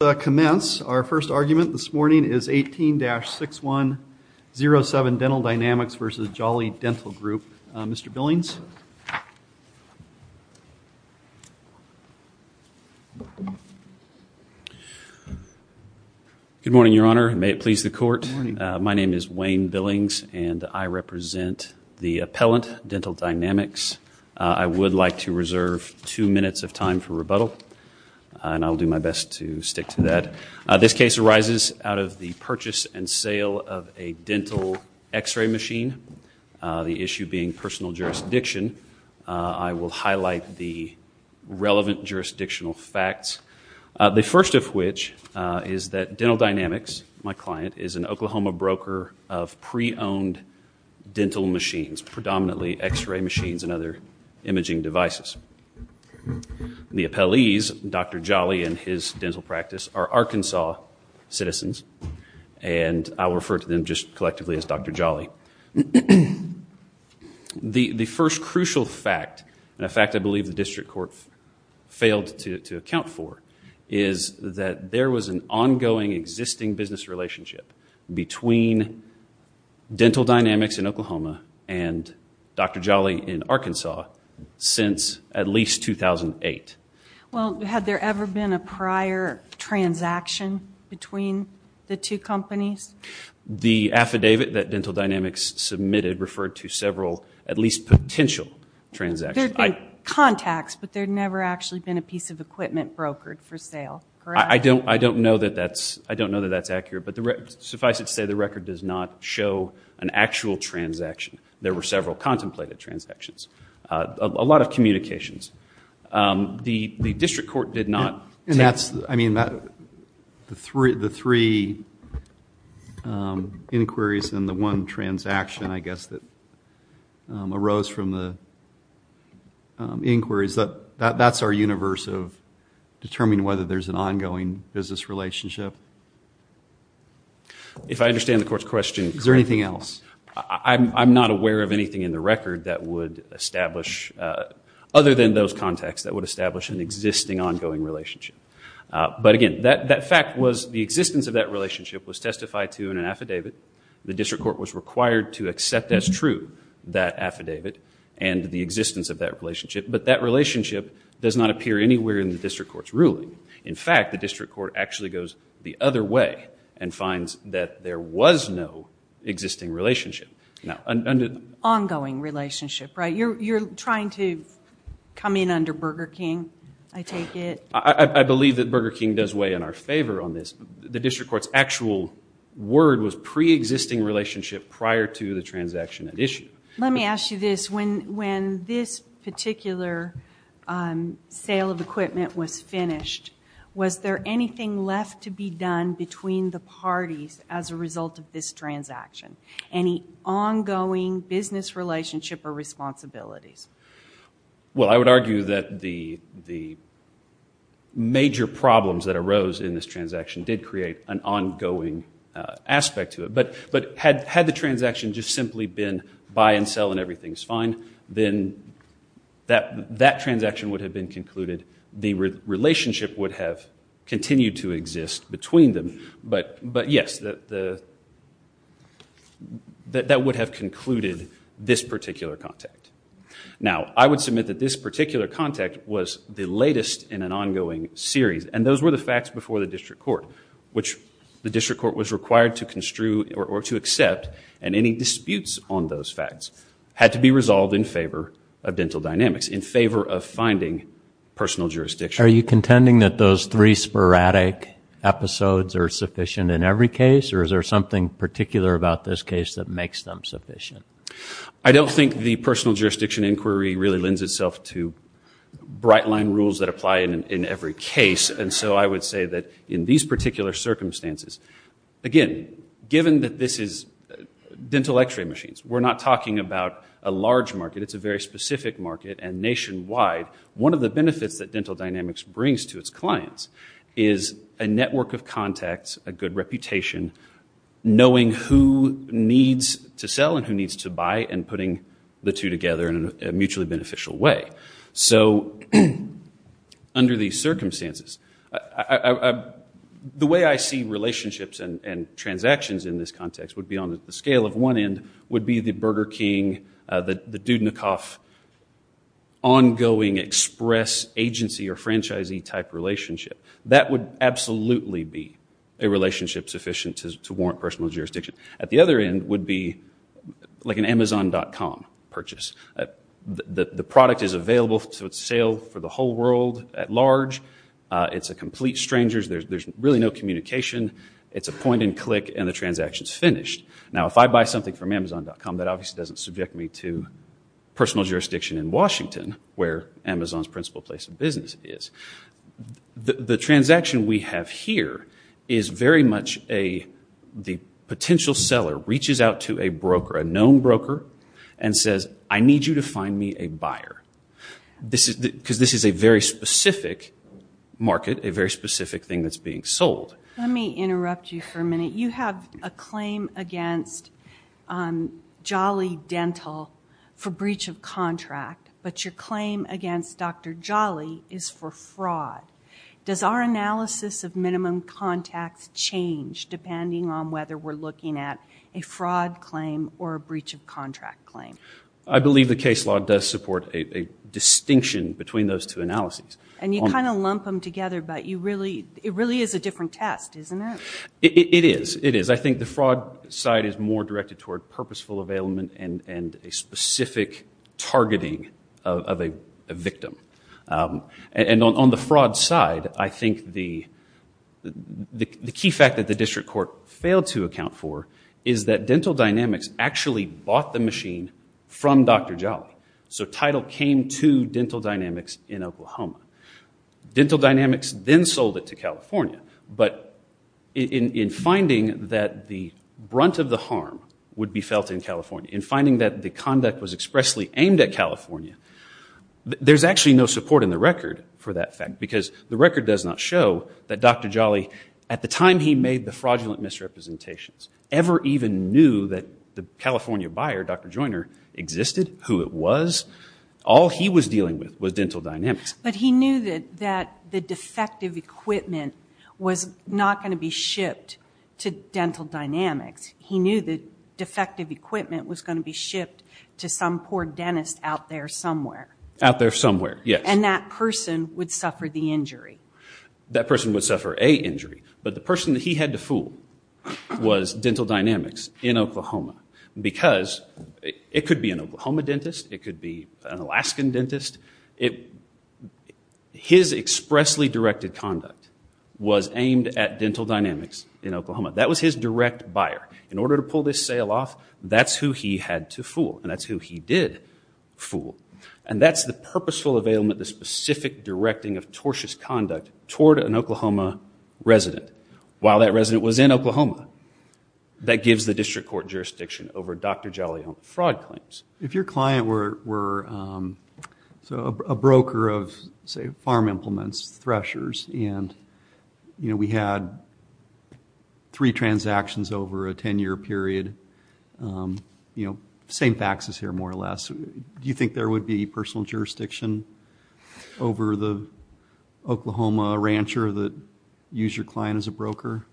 Our first argument this morning is 18-6107, Dental Dynamics v. Jolly Dental Group. Mr. Billings? Good morning, Your Honor. May it please the court. My name is Wayne Billings and I represent the appellant, Dental Dynamics. I would like to reserve two minutes of time for rebuttal and I'll do my best to stick to that. This case arises out of the purchase and sale of a dental x-ray machine. The issue being personal jurisdiction. I will highlight the relevant jurisdictional facts. The first of which is that Dental Dynamics, my client, is an Oklahoma broker of pre-owned dental machines, predominantly x-ray machines and other imaging devices. The practice are Arkansas citizens and I will refer to them just collectively as Dr. Jolly. The first crucial fact, and a fact I believe the district court failed to account for, is that there was an ongoing existing business relationship between Dental Dynamics in Oklahoma and Dr. Jolly in Arkansas since at least 2008. Well, had there ever been a prior transaction between the two companies? The affidavit that Dental Dynamics submitted referred to several, at least potential, transactions. There have been contacts, but there have never actually been a piece of equipment brokered for sale, correct? I don't know that that's accurate, but suffice it to say the record does not show an actual transaction. There were several contemplated transactions. A lot of communications. The district court did not... And that's, I mean, the three inquiries and the one transaction, I guess, that arose from the inquiries, that's our universe of determining whether there's an ongoing business relationship. If I understand the court's question... Is there anything else? I'm not aware of anything in the record that would establish, other than those contacts, that would establish an existing, ongoing relationship. But again, that fact was the existence of that relationship was testified to in an affidavit. The district court was required to accept as true that affidavit and the existence of that relationship. But that relationship does not appear anywhere in the district court's ruling. In fact, the district court actually goes the other way and finds that there was no existing relationship. Now, an ongoing relationship, right? You're trying to come in under Burger King, I take it? I believe that Burger King does weigh in our favor on this. The district court's actual word was pre-existing relationship prior to the transaction at issue. Let me ask you this. When this particular sale of equipment was finished, was there anything left to be done between the parties as a result of this transaction? Any ongoing business relationship or responsibilities? Well, I would argue that the major problems that arose in this transaction did create an ongoing aspect to it. But had the transaction just simply been buy and sell and everything's fine, then that transaction would have been concluded. The relationship would have continued to exist between them. But yes, that would have concluded this particular contact. Now, I would submit that this particular contact was the latest in an ongoing series. And those were the facts before the district court, which the district court was required to construe or to accept. And any disputes on those facts had to be resolved in favor of dental dynamics, in favor of finding personal jurisdiction. Are you contending that those three sporadic episodes are sufficient in every case? Or is there something particular about this case that makes them sufficient? I don't think the personal jurisdiction inquiry really lends itself to bright line rules that apply in every case. And so I would say that in these particular circumstances, again, given that this is dental x-ray machines, we're not talking about a large market. It's a very specific market and nationwide. One of the benefits that dental dynamics brings to its clients is a network of contacts, a good reputation, knowing who needs to sell and who needs to buy, and putting the two together in a mutually beneficial way. So under these circumstances, the way I see relationships and transactions in this context would be on the scale of one end, would be the Burger King, the Dudnikoff ongoing express agency or franchisee type relationship. That would absolutely be a relationship sufficient to warrant personal jurisdiction. At the other end would be like an Amazon.com purchase. The product is available to sale for the whole world at large. It's a complete stranger's. There's really no communication. It's a point and click and the transaction's finished. Now, if I buy something from Amazon.com, that obviously doesn't subject me to personal jurisdiction in Washington, where Amazon's principal place of business is. The transaction we have here is very much the potential seller reaches out to a broker, a known broker, and says, I need you to find me a buyer because this is a very specific market, a very specific thing that's being sold. Let me interrupt you for a minute. You have a claim against Jolly Dental for breach of contract, but your claim against Dr. Jolly is for fraud. Does our analysis of minimum contacts change depending on whether we're looking at a fraud claim or a breach of contract claim? I believe the case law does support a distinction between those two analyses. And you kind of lump them together, but it really is a different test, isn't it? It is. It is. I think the fraud side is more directed toward purposeful availment and a specific targeting of a victim. And on the fraud side, I think the key fact that the district court failed to account for is that Dental Dynamics actually bought the machine from Dr. Jolly. So title came to Dental Dynamics in Oklahoma. Dental Dynamics then sold it to California, but in finding that the brunt of the harm would be felt in California, in finding that the conduct was expressly aimed at California, there's actually no support in the record for that fact because the record does not show that Dr. Jolly, at the time he made the fraudulent misrepresentations, ever even knew that the California buyer, Dr. Joiner, existed, who it was. All he was dealing with was Dental Dynamics. But he knew that the defective equipment was not going to be shipped to Dental Dynamics. He knew that defective equipment was going to be shipped to some poor dentist out there somewhere. Out there somewhere, yes. And that person would suffer the injury. That person would suffer a injury. But the person that he had to fool was Dental Dynamics in Oklahoma. Because it could be an Oklahoma dentist, it could be an Alaskan dentist. His expressly directed conduct was aimed at Dental Dynamics in Oklahoma. That was his direct buyer. In order to pull this sale off, that's who he had to fool. And that's who he did fool. And that's the purposeful availment, the specific directing of tortious conduct toward an Oklahoma resident. While that resident was in Oklahoma. That gives the district court jurisdiction over Dr. Jolly's own fraud claims. If your client were a broker of, say, farm implements, threshers, and we had three transactions over a 10-year period, same faxes here more or less, do you think there would be personal jurisdiction over the Oklahoma rancher that used your client as a broker?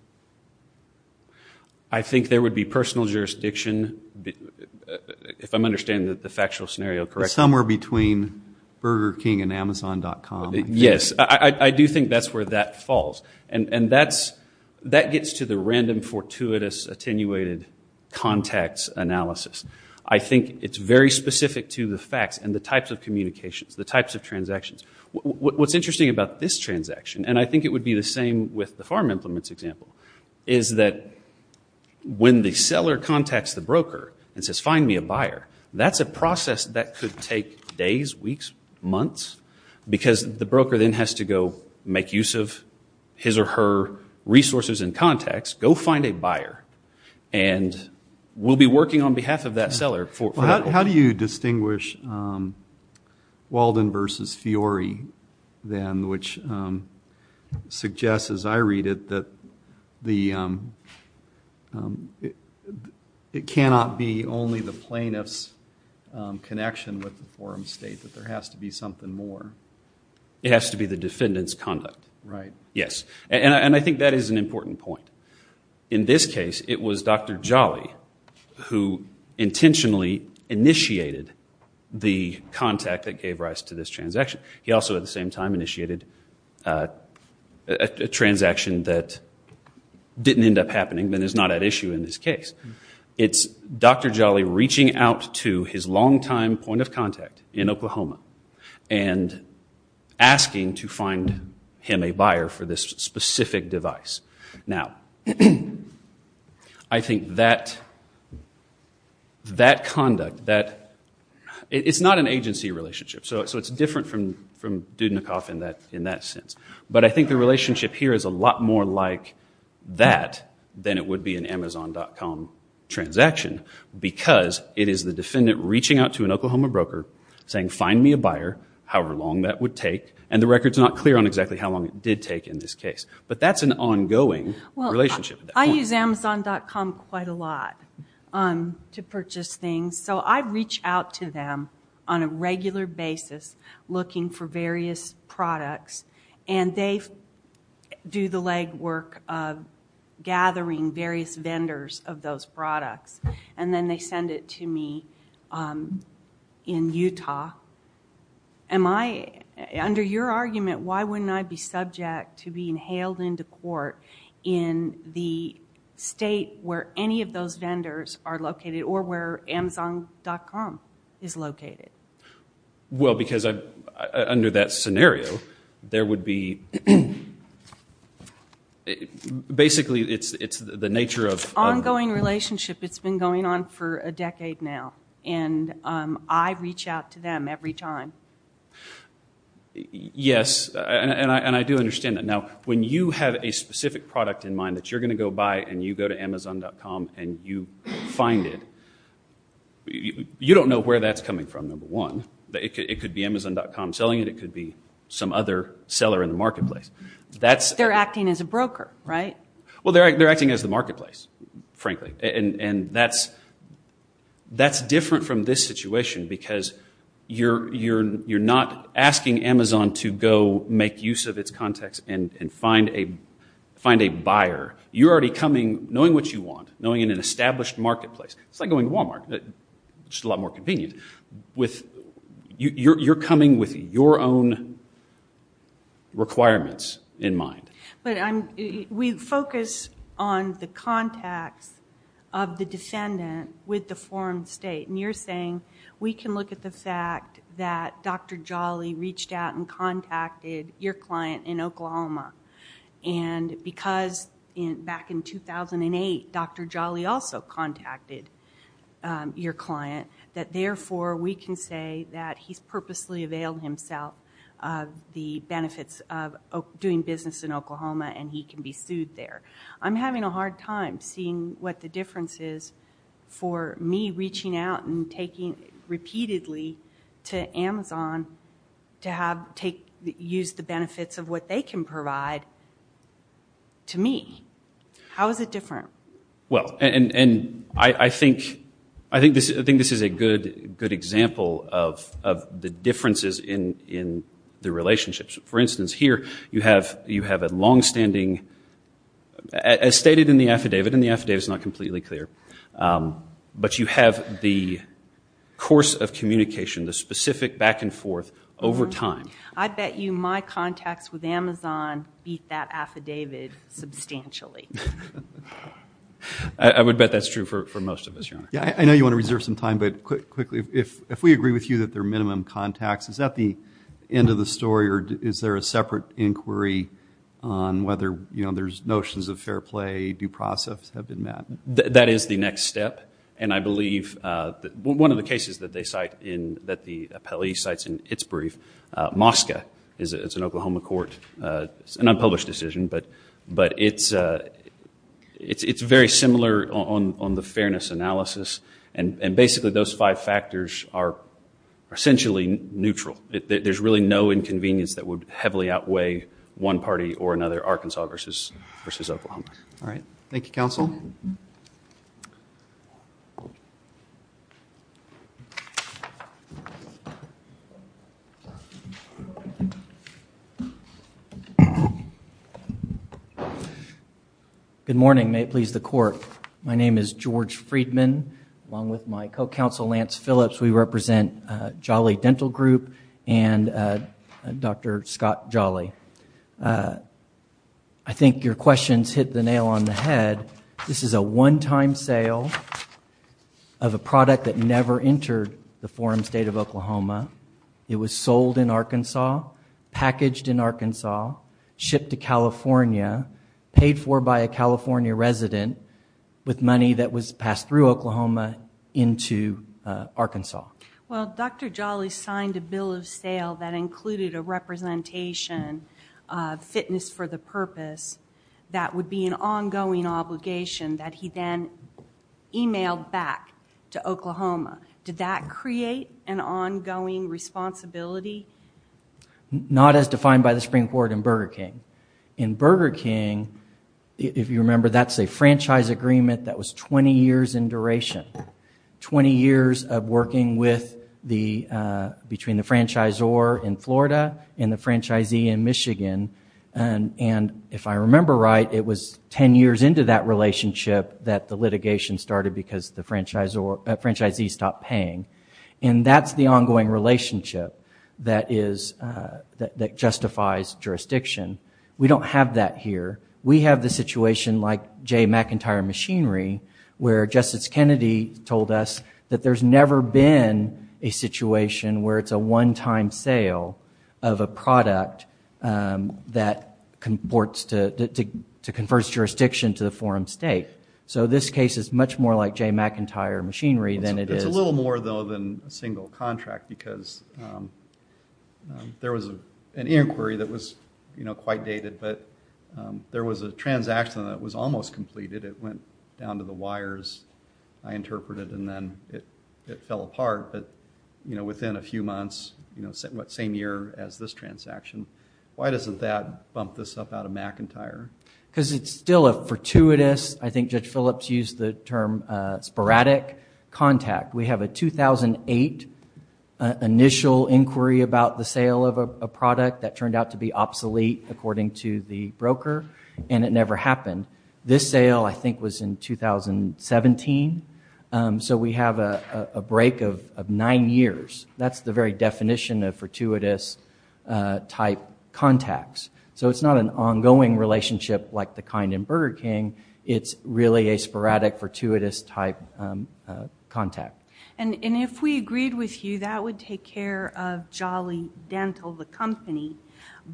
I think there would be personal jurisdiction, if I'm understanding the factual scenario correctly. Somewhere between Burger King and Amazon.com. Yes, I do think that's where that falls. And that gets to the random fortuitous attenuated contacts analysis. I think it's very specific to the facts and the types of communications, the types of transactions. What's interesting about this transaction, and I think it would be the same with the farm implements example, is that when the seller contacts the broker and says, find me a buyer, that's a process that could take days, weeks, months, because the broker then has to go make use of his or her resources and contacts, go find a buyer. And we'll be working on behalf of that seller for that. How do you distinguish Walden versus Fiori then, which suggests, as I read it, that it cannot be only the plaintiff's connection with the farm state, that there has to be something more? It has to be the defendant's conduct. Right. Yes. And I think that is an important point. In this case, it was Dr. Jolly who intentionally initiated the contact that gave rise to this transaction. He also, at the same time, initiated a transaction that didn't end up happening and is not at issue in this case. It's Dr. Jolly reaching out to his longtime point of contact in Oklahoma and asking to find him a buyer for this specific device. Now, I think that conduct, it's not an agency relationship, so it's different from Dudnikoff in that sense. But I think the relationship here is a lot more like that than it would be an Amazon.com transaction, because it is the defendant reaching out to an Oklahoma broker saying, find me a buyer, however long that would take. And the record's not clear on exactly how long it did take in this case. But that's an ongoing relationship at that point. Well, I use Amazon.com quite a lot to purchase things. So I reach out to them on a regular basis looking for various products. And they do the legwork of gathering various vendors of those products. And then they send it to me in Utah. Am I, under your argument, why wouldn't I be subject to being hailed into court in the state where any of those vendors are located, or where Amazon.com is located? Well, because under that scenario, there would be, basically, it's the nature of- Ongoing relationship. It's been going on for a decade now. And I reach out to them every time. Yes, and I do understand that. Now, when you have a specific product in mind that you're going to go buy, and you go to Amazon.com, and you find it, you don't know where that's coming from, number one. It could be Amazon.com selling it. It could be some other seller in the marketplace. They're acting as a broker, right? Well, they're acting as the marketplace, frankly. And that's different from this situation, because you're not asking Amazon to go make use of its contacts and find a buyer. You're already coming, knowing what you want, knowing in an established marketplace. It's like going to Walmart, just a lot more convenient. You're coming with your own requirements in mind. But we focus on the contacts of the defendant with the foreign state. And you're saying, we can look at the fact that Dr. Jolly reached out and contacted your client in Oklahoma. And because back in 2008, Dr. Jolly also contacted your client, that therefore, we can say that he's purposely availed himself of the benefits of doing business in Oklahoma, and he can be sued there. I'm having a hard time seeing what the difference is for me reaching out and taking repeatedly to Amazon to use the benefits of what they can provide to me. How is it different? Well, and I think this is a good example of the differences in the relationships. For instance, here, you have a longstanding, as stated in the affidavit, and the affidavit's not completely clear, but you have the course of communication, the specific back and forth over time. I bet you my contacts with Amazon beat that affidavit substantially. I would bet that's true for most of us, Your Honor. Yeah, I know you want to reserve some time, but quickly, if we agree with you that they're minimum contacts, is that the end of the story, or is there a separate inquiry on whether there's notions of fair play, due process have been met? That is the next step. And I believe that one of the cases that the appellee cites in its brief, Mosca, it's an Oklahoma court, an unpublished decision, but it's very similar on the fairness analysis. And basically, those five factors are essentially neutral. There's really no inconvenience that would heavily outweigh one party or another, Arkansas versus Oklahoma. All right. Thank you, counsel. Good morning. May it please the court. My name is George Friedman, along with my co-counsel, Lance Phillips. We represent Jolly Dental Group and Dr. Scott Jolly. I think your questions hit the nail on the head. This is a one-time sale of a product that never entered the forum state of Oklahoma. It was sold in Arkansas, packaged in Arkansas, shipped to California, paid for by a California resident. With money that was passed through Oklahoma into Arkansas. Well, Dr. Jolly signed a bill of sale that included a representation of fitness for the purpose that would be an ongoing obligation that he then emailed back to Oklahoma. Did that create an ongoing responsibility? Not as defined by the Supreme Court in Burger King. In Burger King, if you remember, that's a franchise agreement that was 20 years in duration. 20 years of working between the franchisor in Florida and the franchisee in Michigan. And if I remember right, it was 10 years into that relationship that the litigation started because the franchisee stopped paying. And that's the ongoing relationship that justifies jurisdiction. We don't have that here. We have the situation like J. McIntyre Machinery, where Justice Kennedy told us that there's never been a situation where it's a one-time sale of a product that comports to converse jurisdiction to the forum state. So this case is much more like J. McIntyre Machinery than it is- More than a single contract, because there was an inquiry that was quite dated, but there was a transaction that was almost completed. It went down to the wires, I interpreted, and then it fell apart. But within a few months, same year as this transaction, why doesn't that bump this up out of McIntyre? Because it's still a fortuitous, I think Judge Phillips used the term, sporadic contact. We have a 2008 initial inquiry about the sale of a product that turned out to be obsolete, according to the broker, and it never happened. This sale, I think, was in 2017, so we have a break of nine years. That's the very definition of fortuitous-type contacts. So it's not an ongoing relationship like the kind in Burger King. It's really a sporadic, fortuitous-type contact. And if we agreed with you, that would take care of Jolly Dental, the company,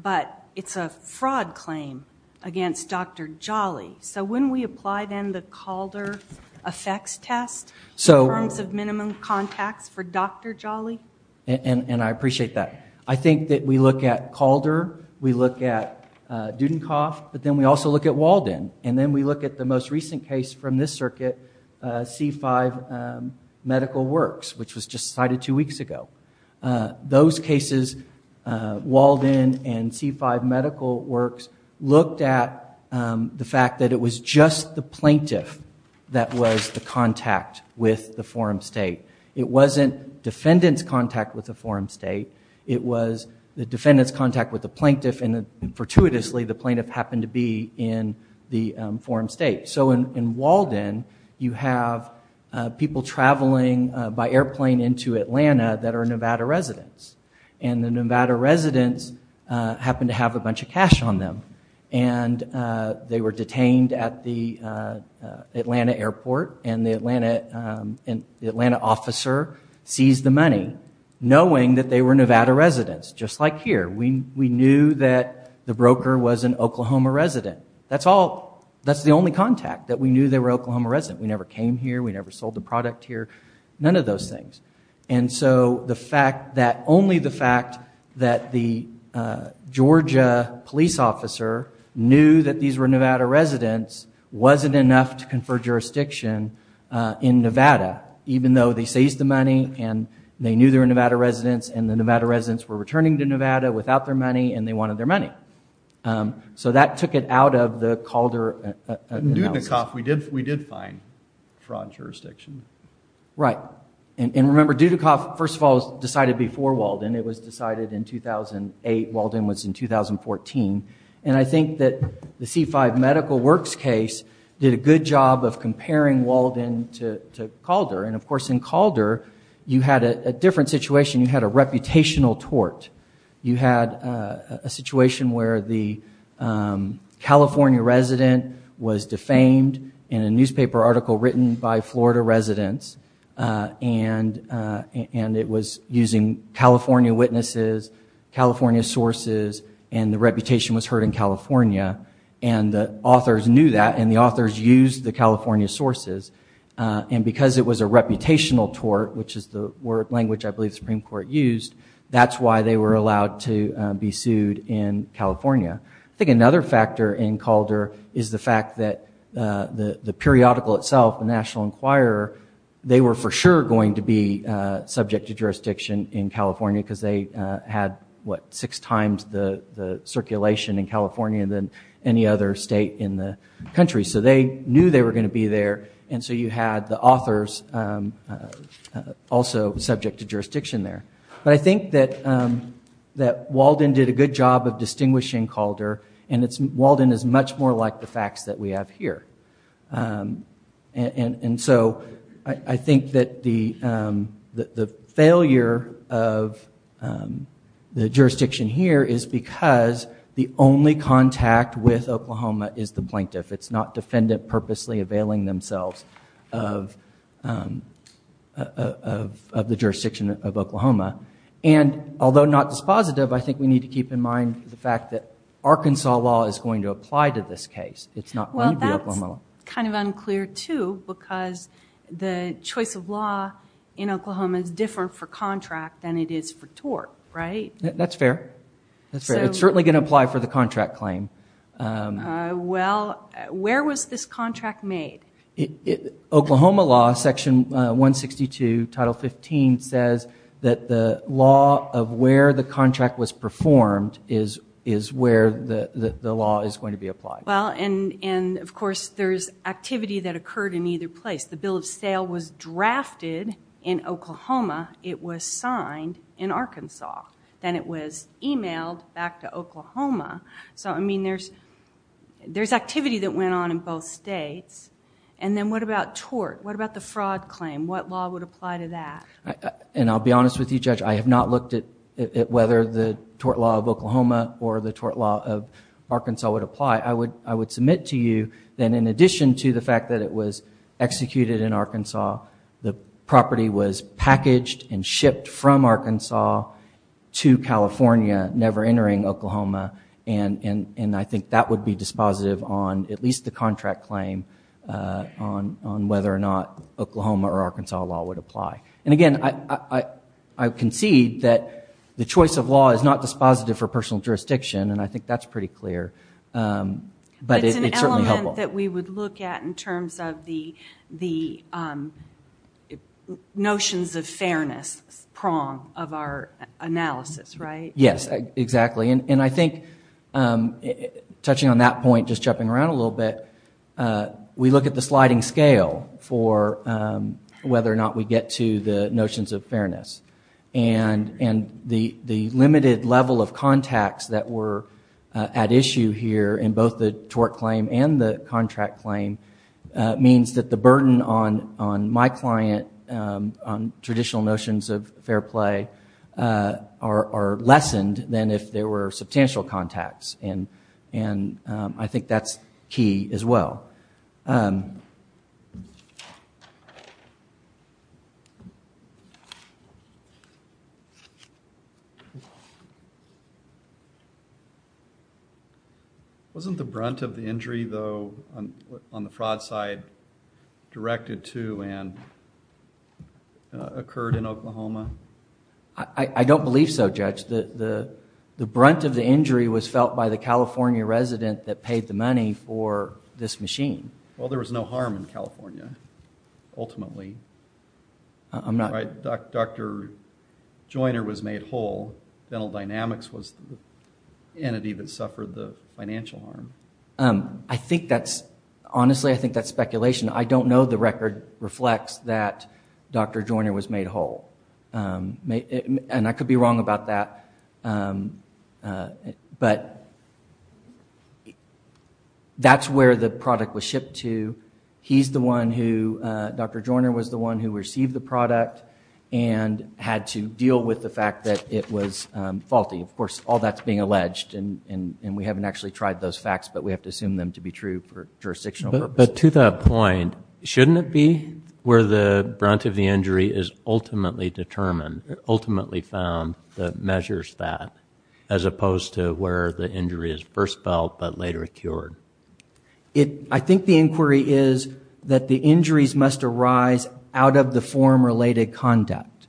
but it's a fraud claim against Dr. Jolly. So wouldn't we apply, then, the Calder effects test in terms of minimum contacts for Dr. Jolly? And I appreciate that. I think that we look at Calder, we look at Dudenkopf, but then we also look at Walden. And then we look at the most recent case from this circuit, C5 Medical Works, which was just cited two weeks ago. Those cases, Walden and C5 Medical Works, looked at the fact that it was just the plaintiff that was the contact with the forum state. It wasn't defendant's contact with the forum state. It was the defendant's contact with the plaintiff, and fortuitously, the plaintiff happened to be in the forum state. So in Walden, you have people traveling by airplane into Atlanta that are Nevada residents. And the Nevada residents happened to have a bunch of cash on them, and they were detained at the Atlanta airport. And the Atlanta officer seized the money knowing that they were Nevada residents, just like here. We knew that the broker was an Oklahoma resident. That's the only contact, that we knew they were Oklahoma residents. We never came here. We never sold the product here. None of those things. And so only the fact that the Georgia police officer knew that these were Nevada residents wasn't enough to confer jurisdiction in Nevada, even though they seized the money, and they knew they were Nevada residents, and the Nevada residents were returning to Nevada without their money, and they wanted their money. So that took it out of the Calder analysis. In Dudikoff, we did find fraud jurisdiction. Right. And remember, Dudikoff, first of all, was decided before Walden. It was decided in 2008. Walden was in 2014. And I think that the C-5 medical works case did a good job of comparing Walden to Calder. And of course, in Calder, you had a different situation. You had a reputational tort. You had a situation where the California resident was defamed in a newspaper article written by Florida residents, and it was using California witnesses, California sources, and the reputation was heard in California. And the authors knew that, and the authors used the California sources. And because it was a reputational tort, which is the language I believe the Supreme Court used, that's why they were allowed to be sued in California. I think another factor in Calder is the fact that the periodical itself, the National Enquirer, they were for sure going to be subject to jurisdiction in California, because they had, what, six times the circulation in California than any other state in the country. So they knew they were going to be there, and so you had the authors also subject to jurisdiction there. But I think that Walden did a good job of distinguishing Calder, and Walden is much more like the facts that we have here. And so I think that the failure of the jurisdiction here is because the only contact with Oklahoma is the plaintiff. It's not defendant purposely availing themselves of the jurisdiction of Oklahoma. And although not dispositive, I think we need to keep in mind the fact that Arkansas law is going to apply to this case. It's not going to be Oklahoma law. Well, that's kind of unclear, too, because the choice of law in Oklahoma is different for contract than it is for tort, right? That's fair. That's fair. It's certainly going to apply for the contract claim. Well, where was this contract made? Oklahoma law, section 162, title 15, says that the law of where the contract was performed is where the law is going to be applied. Well, and of course, there's activity that occurred in either place. The bill of sale was drafted in Oklahoma. It was signed in Arkansas. Then it was emailed back to Oklahoma. So, I mean, there's activity that went on in both states. And then what about tort? What about the fraud claim? What law would apply to that? And I'll be honest with you, Judge. I have not looked at whether the tort law of Oklahoma or the tort law of Arkansas would apply. I would submit to you that in addition to the fact that it was executed in Arkansas, the property was packaged and shipped from Arkansas to California, never entering Oklahoma. And I think that would be dispositive on at least the contract claim on whether or not Oklahoma or Arkansas law would apply. And again, I concede that the choice of law is not dispositive for personal jurisdiction. And I think that's pretty clear. But it's certainly helpful. It's an element that we would look at in terms of the notions of fairness prong of our analysis, right? Yes, exactly. And I think, touching on that point, just jumping around a little bit, we look at the sliding scale for whether or not we get to the notions of fairness. And the limited level of contacts that were at issue here in both the tort claim and the contract claim means that the burden on my client on traditional notions of fair play are lessened than if there were substantial contacts. And I think that's key as well. Wasn't the brunt of the injury, though, on the fraud side directed to and occurred in Oklahoma? I don't believe so, Judge. The brunt of the injury was felt by the California resident that paid the money for this machine. Well, there was no harm in California, ultimately. I'm not. Dr. Joiner was made whole. Dental Dynamics was the entity that suffered the financial harm. I think that's, honestly, I think that's speculation. I don't know the record reflects that Dr. Joiner was made whole. And I could be wrong about that. But that's where the product was shipped to. He's the one who, Dr. Joiner was the one who received the product and had to deal with the fact that it was faulty. Of course, all that's being alleged. And we haven't actually tried those facts, but we have to assume them to be true for jurisdictional purposes. But to that point, shouldn't it be where the brunt of the injury is ultimately determined, ultimately found that measures that, as opposed to where the injury is first felt but later cured? I think the inquiry is that the injuries must arise out of the forum-related conduct.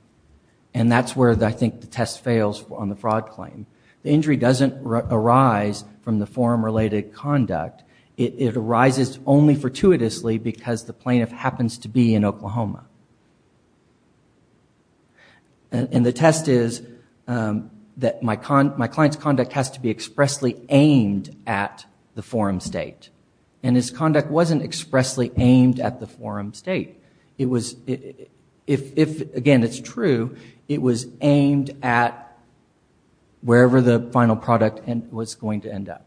And that's where I think the test fails on the fraud claim. The injury doesn't arise from the forum-related conduct. It arises only fortuitously because the plaintiff happens to be in Oklahoma. And the test is that my client's conduct has to be expressly aimed at the forum state. And his conduct wasn't expressly aimed at the forum state. If, again, it's true, it was aimed at wherever the final product was going to end up.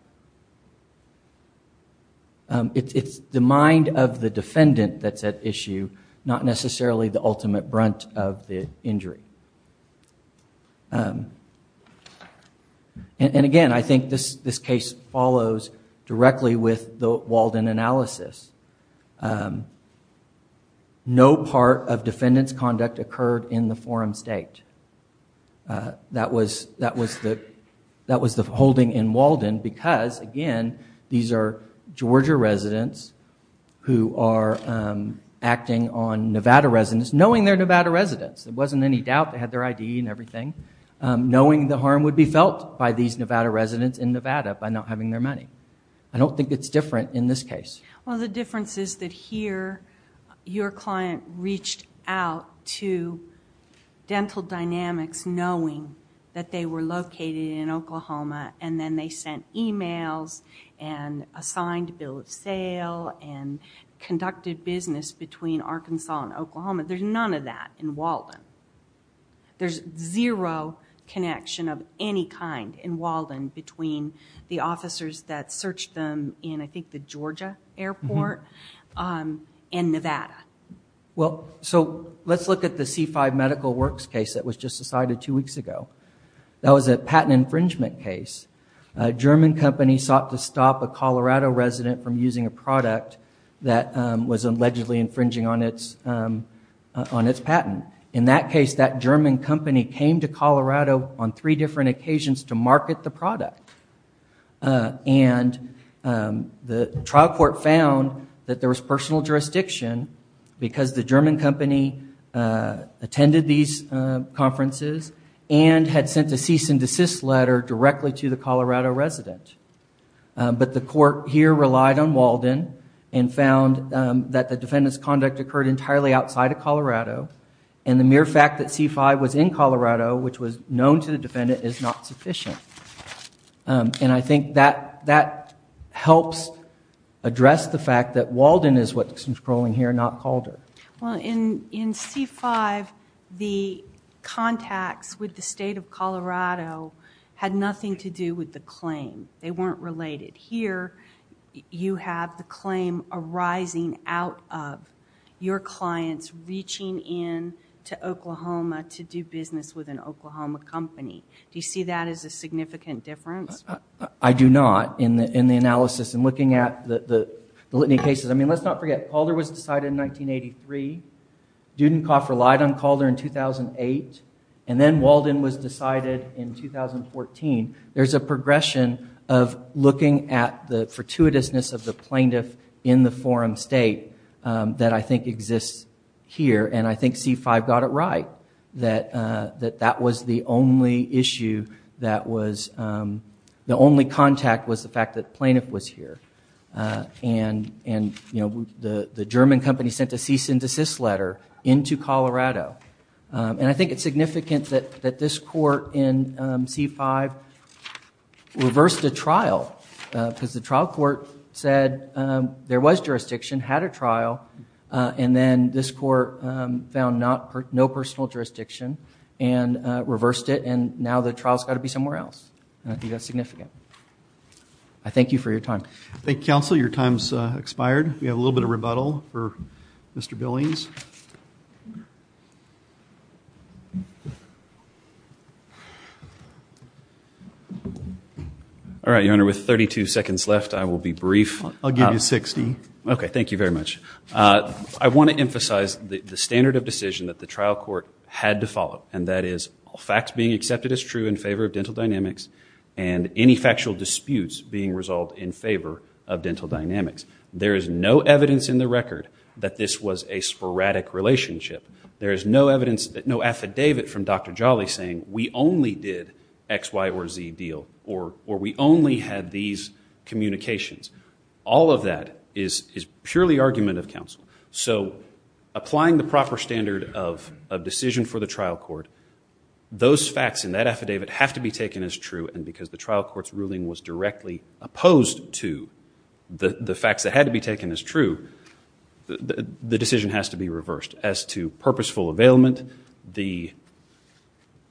It's the mind of the defendant that's at issue, not necessarily the ultimate brunt of the injury. And again, I think this case follows directly with the Walden analysis. No part of defendant's conduct occurred in the forum state. That was the holding in Walden because, again, these are Georgia residents who are acting on Nevada residents, knowing they're Nevada residents. There wasn't any doubt they had their ID and everything, knowing the harm would be felt by these Nevada residents in Nevada by not having their money. I don't think it's different in this case. Well, the difference is that here your client reached out to Dental Dynamics knowing that they were located in Oklahoma, and then they sent e-mails and assigned a bill of sale and conducted business between Arkansas and Oklahoma. There's none of that in Walden. There's zero connection of any kind in Walden between the officers that searched them in, I think, the Georgia airport and Nevada. Well, so let's look at the C-5 medical works case that was just decided two weeks ago. That was a patent infringement case. A German company sought to stop a Colorado resident from using a product that was allegedly infringing on its patent. In that case, that German company came to Colorado on three different occasions to market the product. And the trial court found that there was personal jurisdiction because the German company attended these conferences and had sent a cease and desist letter directly to the Colorado resident. But the court here relied on Walden and found that the defendant's conduct occurred entirely outside of Colorado, and the mere fact that C-5 was in Colorado, which was known to the defendant, is not sufficient. And I think that helps address the fact that Walden is what's scrolling here, not Calder. Well, in C-5, the contacts with the state of Colorado had nothing to do with the claim. They weren't related. Here, you have the claim arising out of your clients reaching in to Oklahoma to do business with an Oklahoma company. Do you see that as a significant difference? I do not, in the analysis and looking at the litany cases. I mean, let's not forget, Calder was decided in 1983. Dudenkopf relied on Calder in 2008. And then Walden was decided in 2014. There's a progression of looking at the fortuitousness of the plaintiff in the forum state that I think exists here, and I think C-5 got it right, that that was the only issue that was, the only contact was the fact that the plaintiff was here. And, you know, the German company sent a cease and desist letter into Colorado. And I think it's significant that this court in C-5 reversed a trial because the trial court said there was jurisdiction, had a trial, and then this court found no personal jurisdiction and reversed it, and now the trial's got to be somewhere else. I think that's significant. I thank you for your time. Thank you, counsel. Your time's expired. We have a little bit of rebuttal for Mr. Billings. All right, Your Honor, with 32 seconds left, I will be brief. I'll give you 60. Okay, thank you very much. I want to emphasize the standard of decision that the trial court had to follow, and that is facts being accepted as true in favor of dental dynamics and any factual disputes being resolved in favor of dental dynamics. There is no evidence in the record that this was a sporadic relationship. There is no affidavit from Dr. Jolly saying we only did X, Y, or Z deal or we only had these communications. All of that is purely argument of counsel. So applying the proper standard of decision for the trial court, those facts in that affidavit have to be taken as true, and because the trial court's ruling was directly opposed to the facts that had to be taken as true, the decision has to be reversed. As to purposeful availment, the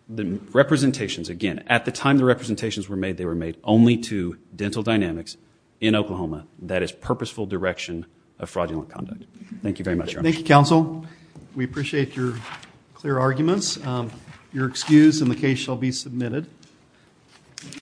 representations, again, at the time the representations were made, they were made only to dental dynamics in Oklahoma. That is purposeful direction of fraudulent conduct. Thank you very much, Your Honor. Thank you, counsel. We appreciate your clear arguments. Your excuse in the case shall be submitted.